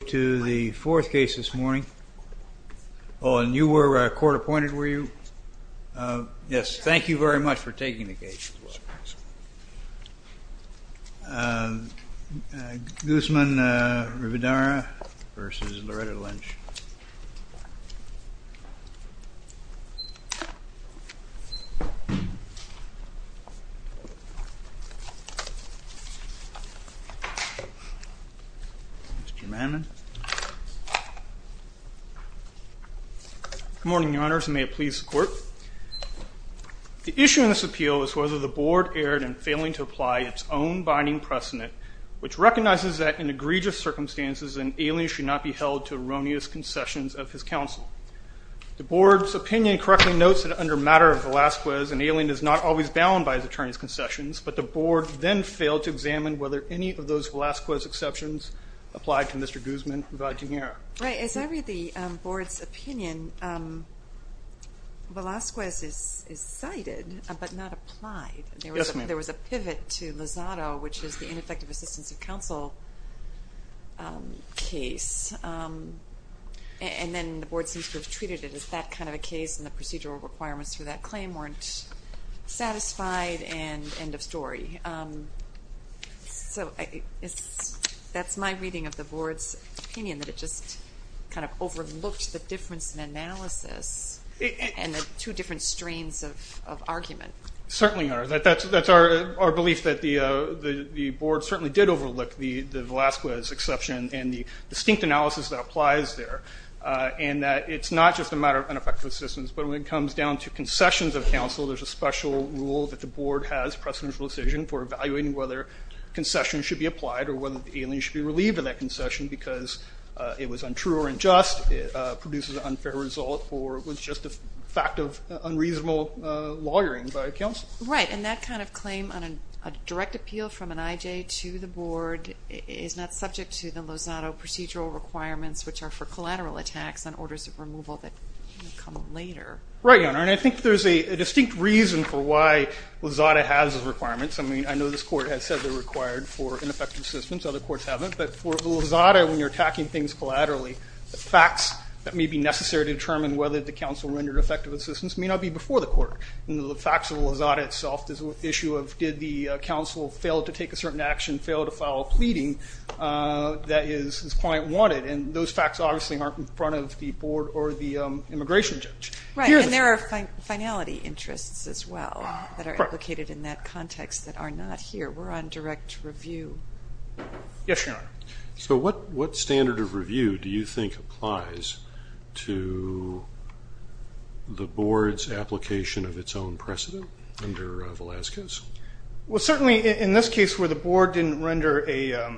We move to the fourth case this morning. Oh, and you were court-appointed, were you? Yes. Thank you very much for taking the case. Guzman-Rivadeneira v. Loretta Lynch. Good morning, Your Honors, and may it please the Court. The issue in this appeal is whether the Board erred in failing to apply its own binding precedent, which recognizes that in egregious circumstances an alien should not be held to erroneous concessions of his counsel. The Board's opinion correctly notes that under matter of Velazquez, an alien is not always bound by his attorney's concessions, but the Board then failed to examine whether any of those Velazquez exceptions applied to Mr. Guzman-Rivadeneira. Right. As I read the Board's opinion, Velazquez is cited but not applied. Yes, ma'am. There was a pivot to Lozado, which is the ineffective assistance of counsel case, and then the Board seems to have treated it as that kind of a case, and the procedural requirements for that claim weren't satisfied, and end of story. So that's my reading of the Board's opinion, that it just kind of overlooked the difference in analysis and the two different strains of argument. Certainly are. That's our belief that the Board certainly did overlook the Velazquez exception and the distinct analysis that applies there, and that it's not just a matter of ineffective assistance, but when it comes down to concessions of counsel, there's a special rule that the Board has, precedential decision, for evaluating whether concessions should be applied or whether the alien should be relieved of that concession because it was untrue or unjust, produces an unfair result, or was just a fact of unreasonable lawyering by counsel. Right, and that kind of claim on a direct appeal from an I.J. to the Board is not subject to the Lozado procedural requirements, which are for collateral attacks on orders of removal that come later. Right, Your Honor, and I think there's a distinct reason for why Lozado has those requirements. I mean, I know this Court has said they're required for ineffective assistance. Other courts haven't, but for Lozado, when you're attacking things collaterally, the facts that may be necessary to determine whether the counsel rendered effective assistance may not be before the court. The facts of Lozado itself is the issue of did the counsel fail to take a certain action, fail to file a pleading that his client wanted, and those facts obviously aren't in front of the Board or the immigration judge. Right, and there are finality interests as well that are implicated in that context that are not here. We're on direct review. Yes, Your Honor. So what standard of review do you think applies to the Board's application of its own precedent under Velazquez? Well, certainly in this case where the Board didn't render a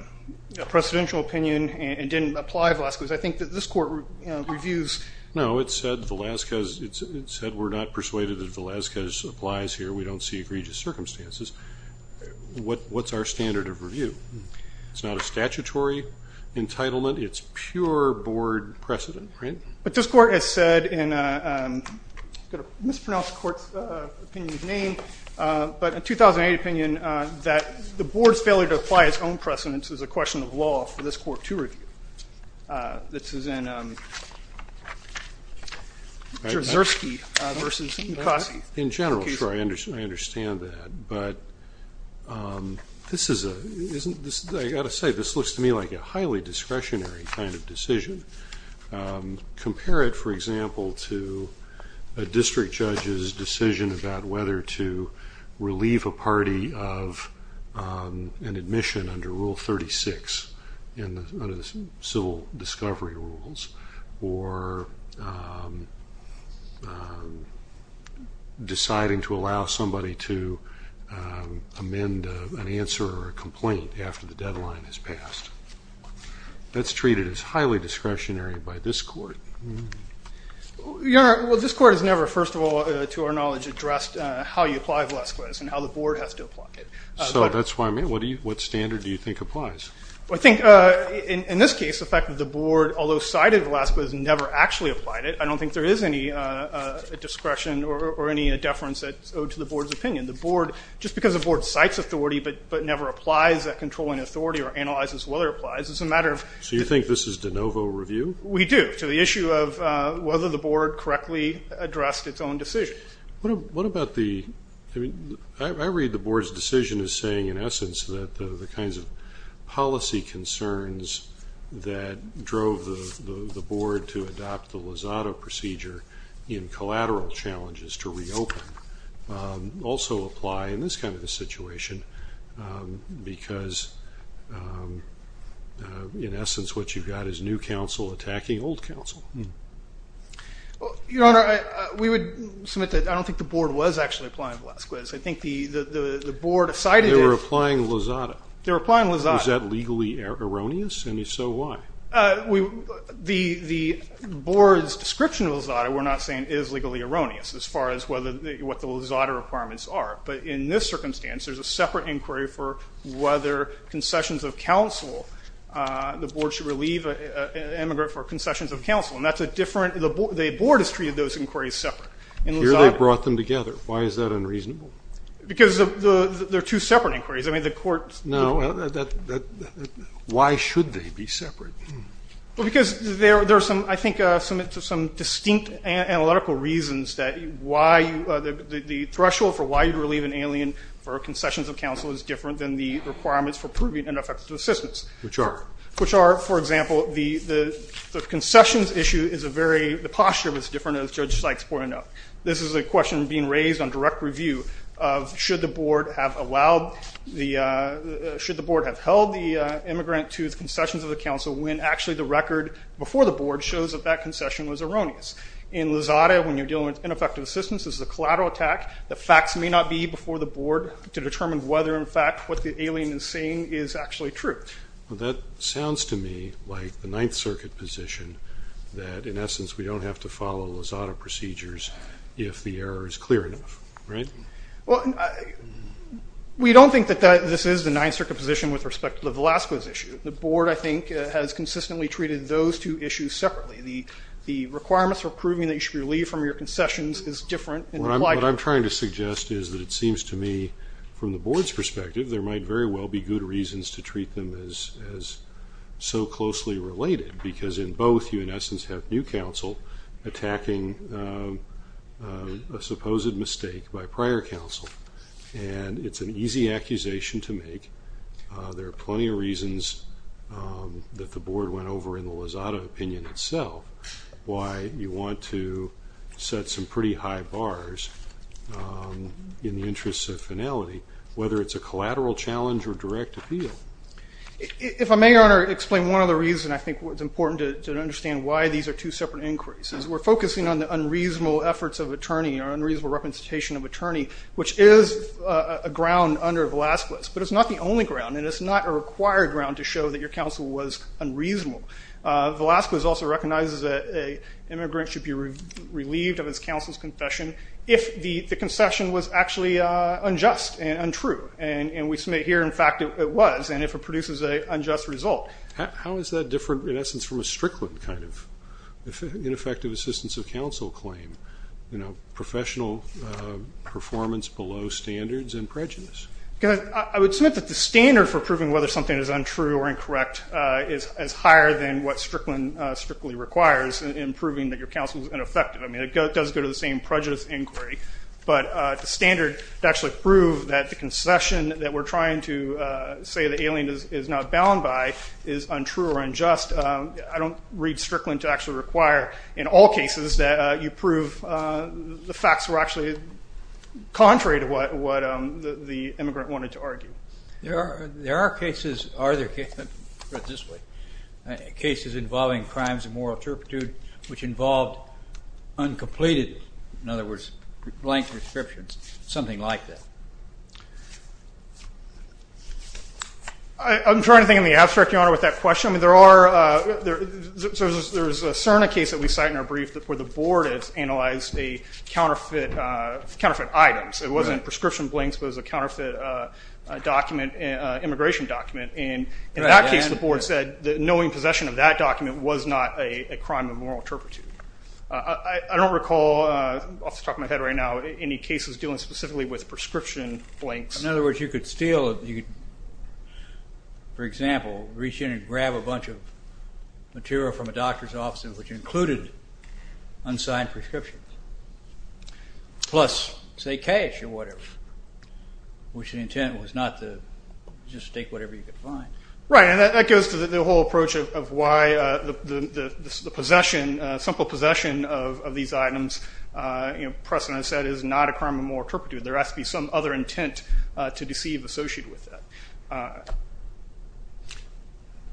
precedential opinion and didn't apply Velazquez, I think that this Court reviews. No, it said Velazquez. It said we're not persuaded that Velazquez applies here. We don't see egregious circumstances. What's our standard of review? It's not a statutory entitlement. It's pure Board precedent, right? But this Court has said in a mispronounced Court's opinion's name, but a 2008 opinion that the Board's failure to apply its own precedents is a question of law for this Court to review. This is in Zersky v. McCoskey. In general, sure, I understand that. But I've got to say, this looks to me like a highly discretionary kind of decision. Compare it, for example, to a district judge's decision about whether to relieve a party of an admission under Rule 36 in the Civil Discovery Rules or deciding to allow somebody to amend an answer or a complaint after the deadline has passed. That's treated as highly discretionary by this Court. Your Honor, well, this Court has never, first of all, to our knowledge, addressed how you apply Velazquez and how the Board has to apply it. So that's what I mean. What standard do you think applies? Well, I think in this case, the fact that the Board, although cited Velazquez, never actually applied it, I don't think there is any discretion or any deference that's owed to the Board's opinion. Just because the Board cites authority but never applies that controlling authority or analyzes whether it applies, it's a matter of ‑‑ So you think this is de novo review? We do, to the issue of whether the Board correctly addressed its own decision. What about the ‑‑ I read the Board's decision as saying, in essence, that the kinds of policy concerns that drove the Board to adopt the Lozado procedure in collateral challenges to reopen also apply in this kind of a situation because, in essence, what you've got is new counsel attacking old counsel. Your Honor, we would submit that I don't think the Board was actually applying Velazquez. I think the Board decided it. They were applying Lozado. They were applying Lozado. Was that legally erroneous? If so, why? The Board's description of Lozado we're not saying is legally erroneous as far as what the Lozado requirements are. But in this circumstance, there's a separate inquiry for whether concessions of counsel, the Board should relieve an immigrant for concessions of counsel. And that's a different ‑‑ the Board has treated those inquiries separate. Here they've brought them together. Why is that unreasonable? Because they're two separate inquiries. I mean, the court ‑‑ No. Why should they be separate? Well, because there are, I think, some distinct analytical reasons that the threshold for why you'd relieve an alien for concessions of counsel is different than the requirements for proving ineffective assistance. Which are? Which are, for example, the concessions issue is a very ‑‑ the posture is different, as Judge Sykes pointed out. This is a question being raised on direct review of should the Board have allowed the ‑‑ should the Board have held the immigrant to his concessions of the counsel when actually the record before the Board shows that that concession was erroneous. In Lozado, when you're dealing with ineffective assistance, this is a collateral attack. The facts may not be before the Board to determine whether, in fact, what the alien is saying is actually true. Well, that sounds to me like the Ninth Circuit position that, in essence, we don't have to follow Lozado procedures if the error is clear enough. Right? Well, we don't think that this is the Ninth Circuit position with respect to the Velasco issue. The Board, I think, has consistently treated those two issues separately. The requirements for proving that you should relieve from your concessions is different. What I'm trying to suggest is that it seems to me, from the Board's perspective, there might very well be good reasons to treat them as so closely related because in both you, in essence, have new counsel attacking a supposed mistake by prior counsel. And it's an easy accusation to make. There are plenty of reasons that the Board went over in the Lozado opinion itself why you want to set some pretty high bars in the interest of finality, whether it's a collateral challenge or direct appeal. If I may, Your Honor, explain one other reason I think it's important to understand why these are two separate inquiries. We're focusing on the unreasonable efforts of attorney or unreasonable representation of attorney, which is a ground under Velasquez. But it's not the only ground, and it's not a required ground to show that your counsel was unreasonable. Velasquez also recognizes that an immigrant should be relieved of his counsel's confession if the concession was actually unjust and untrue. And we submit here, in fact, it was, and if it produces an unjust result. How is that different, in essence, from a Strickland kind of ineffective assistance of counsel claim, professional performance below standards and prejudice? I would submit that the standard for proving whether something is untrue or incorrect is higher than what Strickland strictly requires in proving that your counsel is ineffective. I mean, it does go to the same prejudice inquiry, but the standard to actually prove that the concession that we're trying to say the alien is not bound by is untrue or unjust, I don't read Strickland to actually require, in all cases, that you prove the facts were actually contrary to what the immigrant wanted to argue. There are cases, are there cases, I'll put it this way, cases involving crimes of moral turpitude which involved uncompleted, in other words, blank prescriptions, something like that. I'm trying to think in the abstract, Your Honor, with that question. I mean, there are, there's a CERNA case that we cite in our brief where the board has analyzed a counterfeit item. It wasn't prescription blanks, it was a counterfeit document, immigration document, and in that case the board said that knowing possession of that document was not a crime of moral turpitude. I don't recall off the top of my head right now any cases dealing specifically with prescription blanks. In other words, you could steal, for example, reach in and grab a bunch of material from a doctor's office which included unsigned prescriptions, plus say cash or whatever, which the intent was not to just take whatever you could find. Right, and that goes to the whole approach of why the possession, simple possession of these items, Preston has said, is not a crime of moral turpitude. There has to be some other intent to deceive associated with that.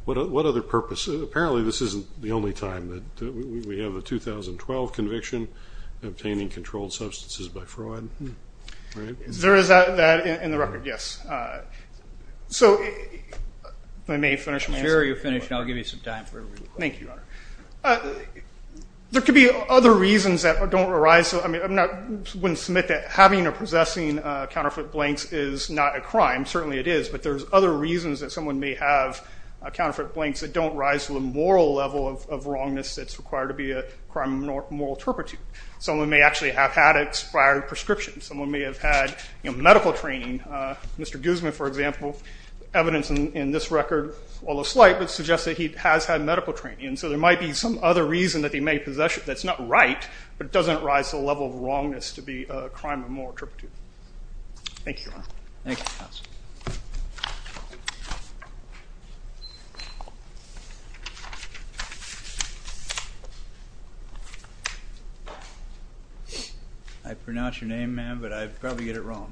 What other purpose? Apparently this isn't the only time that we have a 2012 conviction obtaining controlled substances by fraud, right? There is that in the record, yes. So I may finish my answer. Sure, you finish, and I'll give you some time for it real quick. Thank you, Your Honor. There could be other reasons that don't arise. I mean, I wouldn't submit that having or possessing counterfeit blanks is not a crime. Certainly it is, but there's other reasons that someone may have counterfeit blanks that don't rise to the moral level of wrongness that's required to be a crime of moral turpitude. Someone may actually have had expired prescriptions. Someone may have had medical training. Mr. Guzman, for example, evidence in this record, although slight, would suggest that he has had medical training, and so there might be some other reason that he may possess it that's not right, but it doesn't rise to the level of wrongness to be a crime of moral turpitude. Thank you, Your Honor. Thank you, Counsel. I pronounce your name, ma'am, but I probably did it wrong.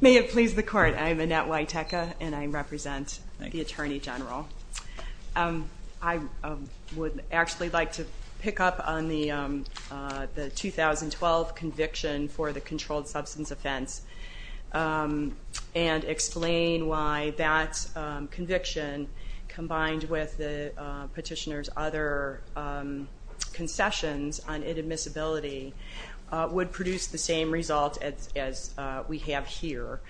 May it please the Court. I am Annette Witeka, and I represent the Attorney General. I would actually like to pick up on the 2012 conviction for the controlled substance offense and explain why that conviction, combined with the petitioner's other concessions on inadmissibility, would produce the same result as we have here.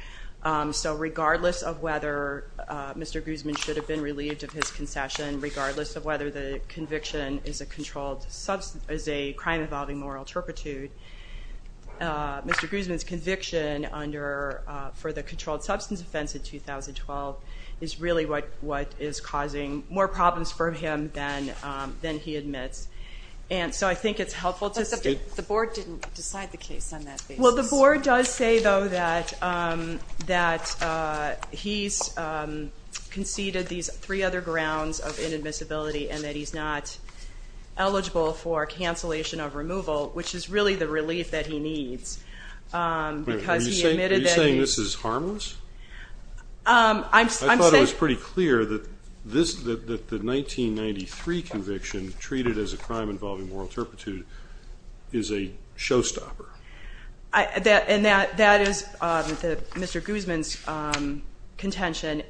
So regardless of whether Mr. Guzman should have been relieved of his concession, regardless of whether the conviction is a crime involving moral turpitude, Mr. Guzman's conviction for the controlled substance offense in 2012 is really what is causing more problems for him than he admits. So I think it's helpful to state— But the Board didn't decide the case on that basis. Well, the Board does say, though, that he's conceded these three other grounds of inadmissibility and that he's not eligible for cancellation of removal, which is really the relief that he needs. Are you saying this is harmless? I thought it was pretty clear that the 1993 conviction, treated as a crime involving moral turpitude, is a showstopper. And that is Mr. Guzman's contention.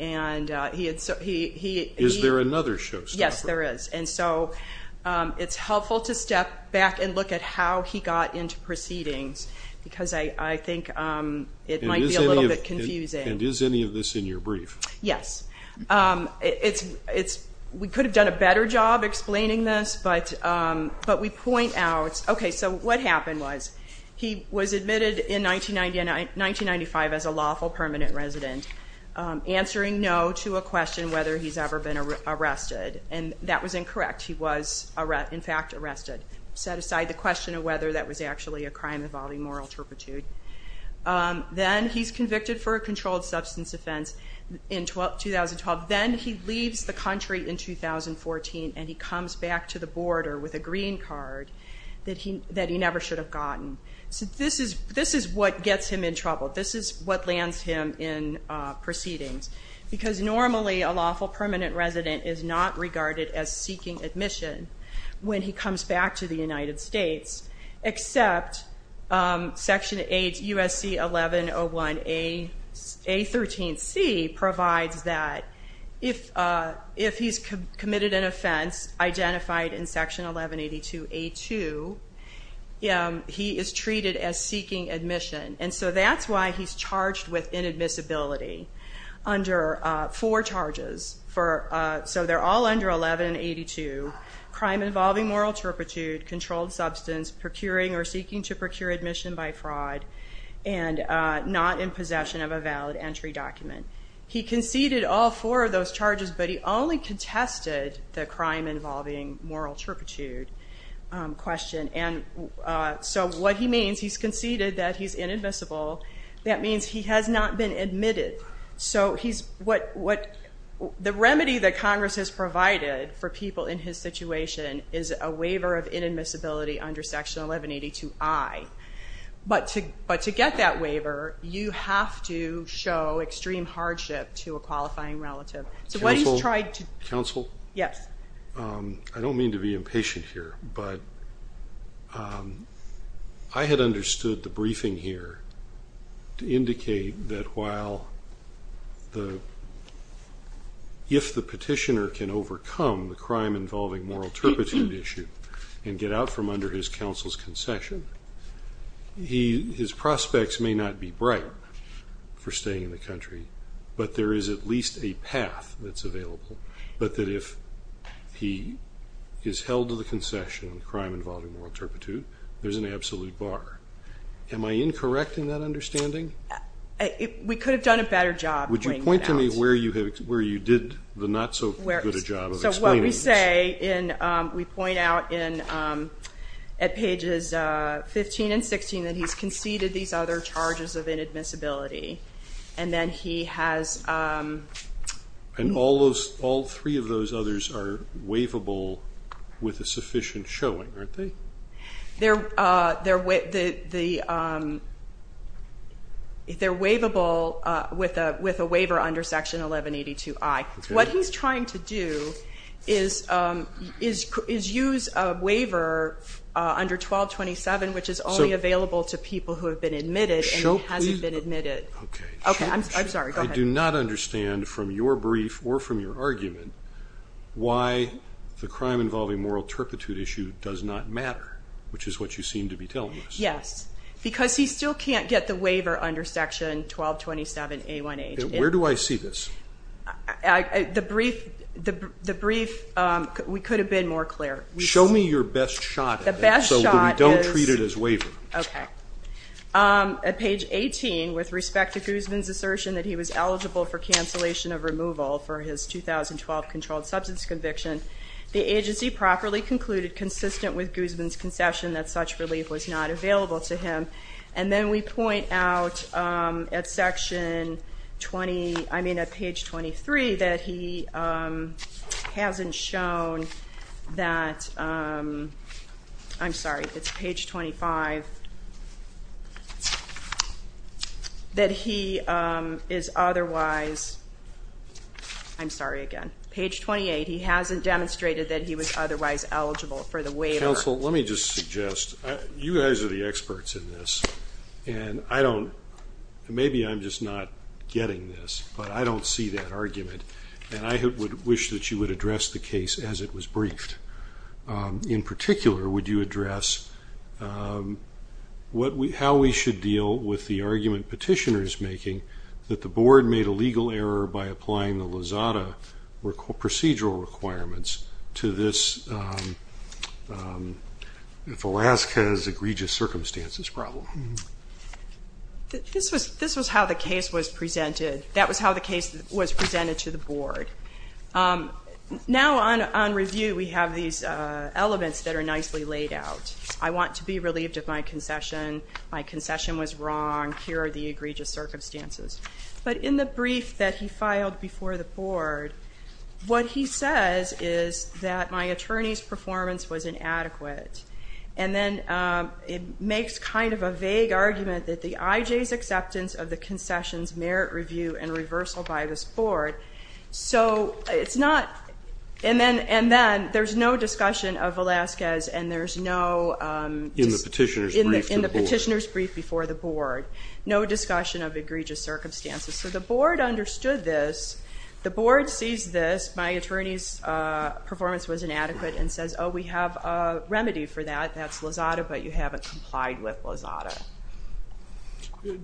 Is there another showstopper? Yes, there is. And so it's helpful to step back and look at how he got into proceedings because I think it might be a little bit confusing. And is any of this in your brief? Yes. We could have done a better job explaining this, but we point out— Okay, so what happened was he was admitted in 1995 as a lawful permanent resident, answering no to a question whether he's ever been arrested. And that was incorrect. He was, in fact, arrested. Set aside the question of whether that was actually a crime involving moral turpitude. Then he's convicted for a controlled substance offense in 2012. Then he leaves the country in 2014, and he comes back to the border with a green card that he never should have gotten. This is what gets him in trouble. This is what lands him in proceedings. Because normally a lawful permanent resident is not regarded as seeking admission when he comes back to the United States, except Section USC 1101A13C provides that if he's committed an offense, identified in Section 1182A2, he is treated as seeking admission. And so that's why he's charged with inadmissibility under four charges. So they're all under 1182. Crime involving moral turpitude, controlled substance, procuring or seeking to procure admission by fraud, and not in possession of a valid entry document. He conceded all four of those charges, but he only contested the crime involving moral turpitude question. And so what he means, he's conceded that he's inadmissible. That means he has not been admitted. So the remedy that Congress has provided for people in his situation is a waiver of inadmissibility under Section 1182I. But to get that waiver, you have to show extreme hardship to a qualifying relative. Counsel? Yes. I don't mean to be impatient here, but I had understood the briefing here to indicate that while the – if the petitioner can overcome the crime involving moral turpitude issue and get out from under his counsel's concession, his prospects may not be bright for staying in the country, but that if he is held to the concession of the crime involving moral turpitude, there's an absolute bar. Am I incorrect in that understanding? We could have done a better job pointing that out. Would you point to me where you did the not so good a job of explaining this? So what we say in – we point out at pages 15 and 16 that he's conceded these other charges of inadmissibility, and then he has – And all three of those others are waivable with a sufficient showing, aren't they? They're waivable with a waiver under Section 1182I. What he's trying to do is use a waiver under 1227, which is only available to people who have been admitted and who hasn't been admitted. Okay, I'm sorry, go ahead. I do not understand from your brief or from your argument why the crime involving moral turpitude issue does not matter, which is what you seem to be telling us. Yes, because he still can't get the waiver under Section 1227A1H. Where do I see this? The brief – we could have been more clear. Show me your best shot at it so that we don't treat it as waiver. Okay. At page 18, with respect to Guzman's assertion that he was eligible for cancellation of removal for his 2012 controlled substance conviction, the agency properly concluded, consistent with Guzman's concession, that such relief was not available to him. And then we point out at Section 20 – I mean at page 23 that he hasn't shown that – I'm sorry, it's page 25 – that he is otherwise – I'm sorry again. Page 28, he hasn't demonstrated that he was otherwise eligible for the waiver. Counsel, let me just suggest. You guys are the experts in this, and I don't – and I would wish that you would address the case as it was briefed. In particular, would you address how we should deal with the argument petitioners making that the board made a legal error by applying the Lozada procedural requirements to this Velazquez egregious circumstances problem? This was how the case was presented. That was how the case was presented to the board. Now on review, we have these elements that are nicely laid out. I want to be relieved of my concession. My concession was wrong. Here are the egregious circumstances. But in the brief that he filed before the board, what he says is that my attorney's performance was inadequate. And then it makes kind of a vague argument that the IJ's acceptance of the review and reversal by this board. So it's not – and then there's no discussion of Velazquez and there's no – In the petitioner's brief to the board. In the petitioner's brief before the board. No discussion of egregious circumstances. So the board understood this. The board sees this, my attorney's performance was inadequate, and says, oh, we have a remedy for that. That's Lozada, but you haven't complied with Lozada.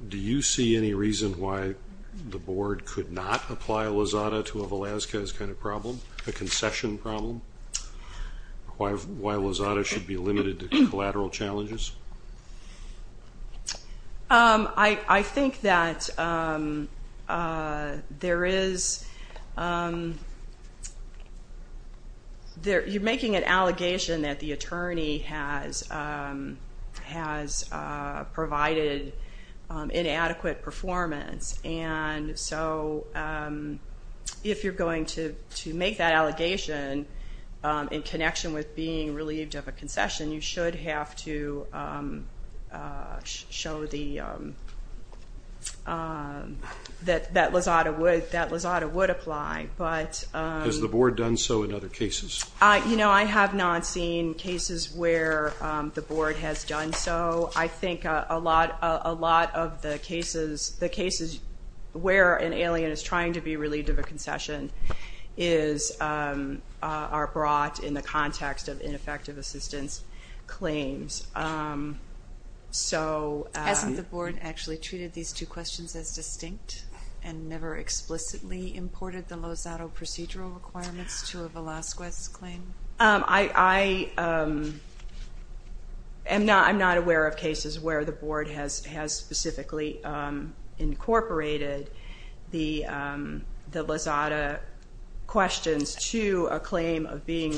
Do you see any reason why the board could not apply Lozada to a Velazquez kind of problem, a concession problem? Why Lozada should be limited to collateral challenges? I think that there is – you're making an allegation that the attorney has provided inadequate performance, and so if you're going to make that allegation in connection with being relieved of a concession, you should have to show that Lozada would apply. Has the board done so in other cases? You know, I have not seen cases where the board has done so. I think a lot of the cases where an alien is trying to be relieved of a concession are brought in the context of ineffective assistance claims. Hasn't the board actually treated these two questions as distinct and never explicitly imported the Lozada procedural requirements to a Velazquez claim? I'm not aware of cases where the board has specifically incorporated the Lozada questions to a claim of being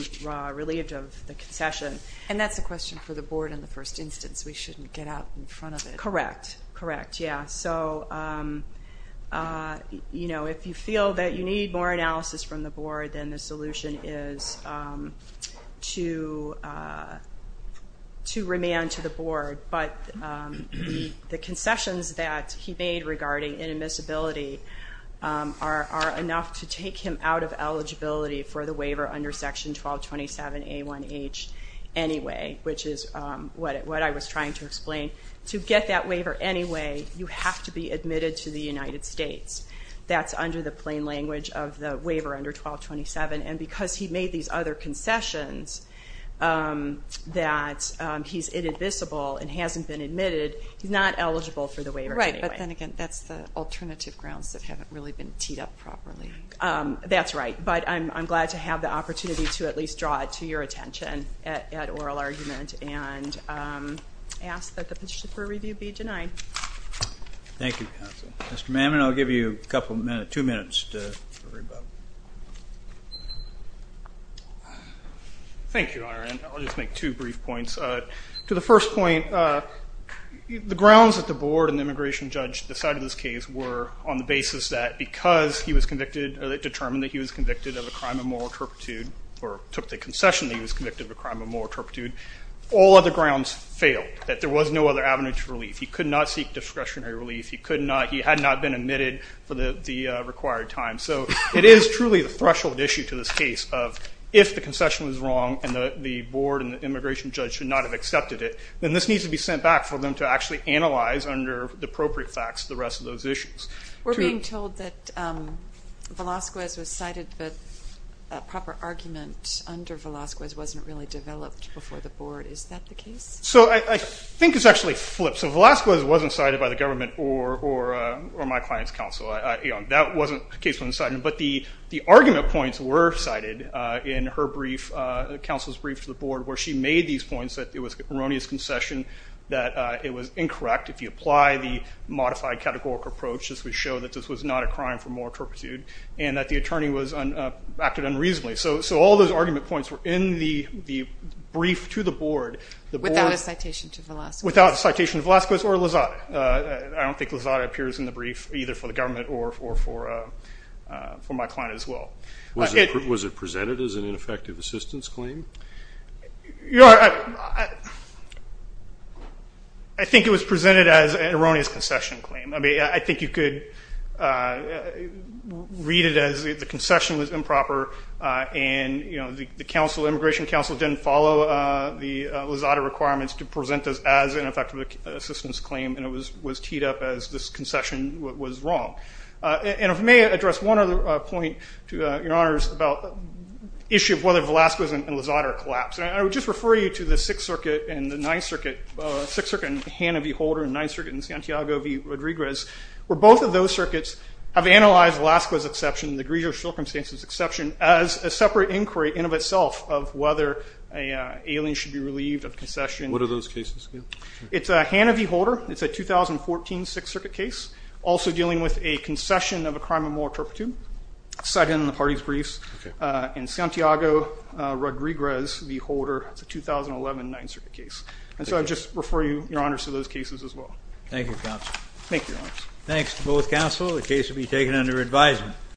relieved of the concession. And that's a question for the board in the first instance. We shouldn't get out in front of it. Correct, correct, yeah. So, you know, if you feel that you need more analysis from the board, then the solution is to remain to the board. But the concessions that he made regarding inadmissibility are enough to take him out of eligibility for the waiver under Section 1227A1H anyway, which is what I was trying to explain. To get that waiver anyway, you have to be admitted to the United States. That's under the plain language of the waiver under 1227. And because he made these other concessions that he's inadmissible and hasn't been admitted, he's not eligible for the waiver anyway. Right, but then again, that's the alternative grounds that haven't really been teed up properly. That's right. But I'm glad to have the opportunity to at least draw it to your attention at oral argument and ask that the petition for review be denied. Thank you, counsel. Mr. Mamman, I'll give you a couple of minutes, two minutes to rebut. Thank you, Your Honor, and I'll just make two brief points. To the first point, the grounds that the board and the immigration judge decided in this case were on the basis that because he was convicted or determined that he was convicted of a crime of moral turpitude or took the concession that he was convicted of a crime of moral turpitude, all other grounds failed, that there was no other avenue to relief. He could not seek discretionary relief. He had not been admitted for the required time. So it is truly the threshold issue to this case of if the concession was wrong and the board and the immigration judge should not have accepted it, then this needs to be sent back for them to actually analyze under the appropriate facts the rest of those issues. We're being told that Velazquez was cited, but a proper argument under Velazquez wasn't really developed before the board. Is that the case? So I think it's actually flipped. So Velazquez wasn't cited by the government or my client's counsel. That case wasn't cited. But the argument points were cited in her brief, counsel's brief to the board, where she made these points that it was an erroneous concession, that it was incorrect. If you apply the modified categorical approach, this would show that this was not a crime for moral turpitude and that the attorney acted unreasonably. So all those argument points were in the brief to the board. Without a citation to Velazquez. Without a citation to Velazquez or Lozada. I don't think Lozada appears in the brief, either for the government or for my client as well. Was it presented as an ineffective assistance claim? I think it was presented as an erroneous concession claim. I think you could read it as the concession was improper and the immigration counsel didn't follow the Lozada requirements to present this as an effective assistance claim, and it was teed up as this concession was wrong. And if I may address one other point, Your Honors, about the issue of whether Velazquez and Lozada are collapsed. I would just refer you to the Sixth Circuit and the Ninth Circuit, Sixth Circuit in Hanna v. Holder and Ninth Circuit in Santiago v. Rodriguez, where both of those circuits have analyzed Velazquez's exception, the grievous circumstances exception, as a separate inquiry in and of itself of whether an alien should be relieved of concession. What are those cases? It's Hanna v. Holder. It's a 2014 Sixth Circuit case, also dealing with a concession of a crime of moral turpitude, cited in the party's briefs, and Santiago v. Rodriguez v. Holder. It's a 2011 Ninth Circuit case. And so I just refer you, Your Honors, to those cases as well. Thank you, counsel. Thank you, Your Honors. Thanks to both counsel. The case will be taken under advisement.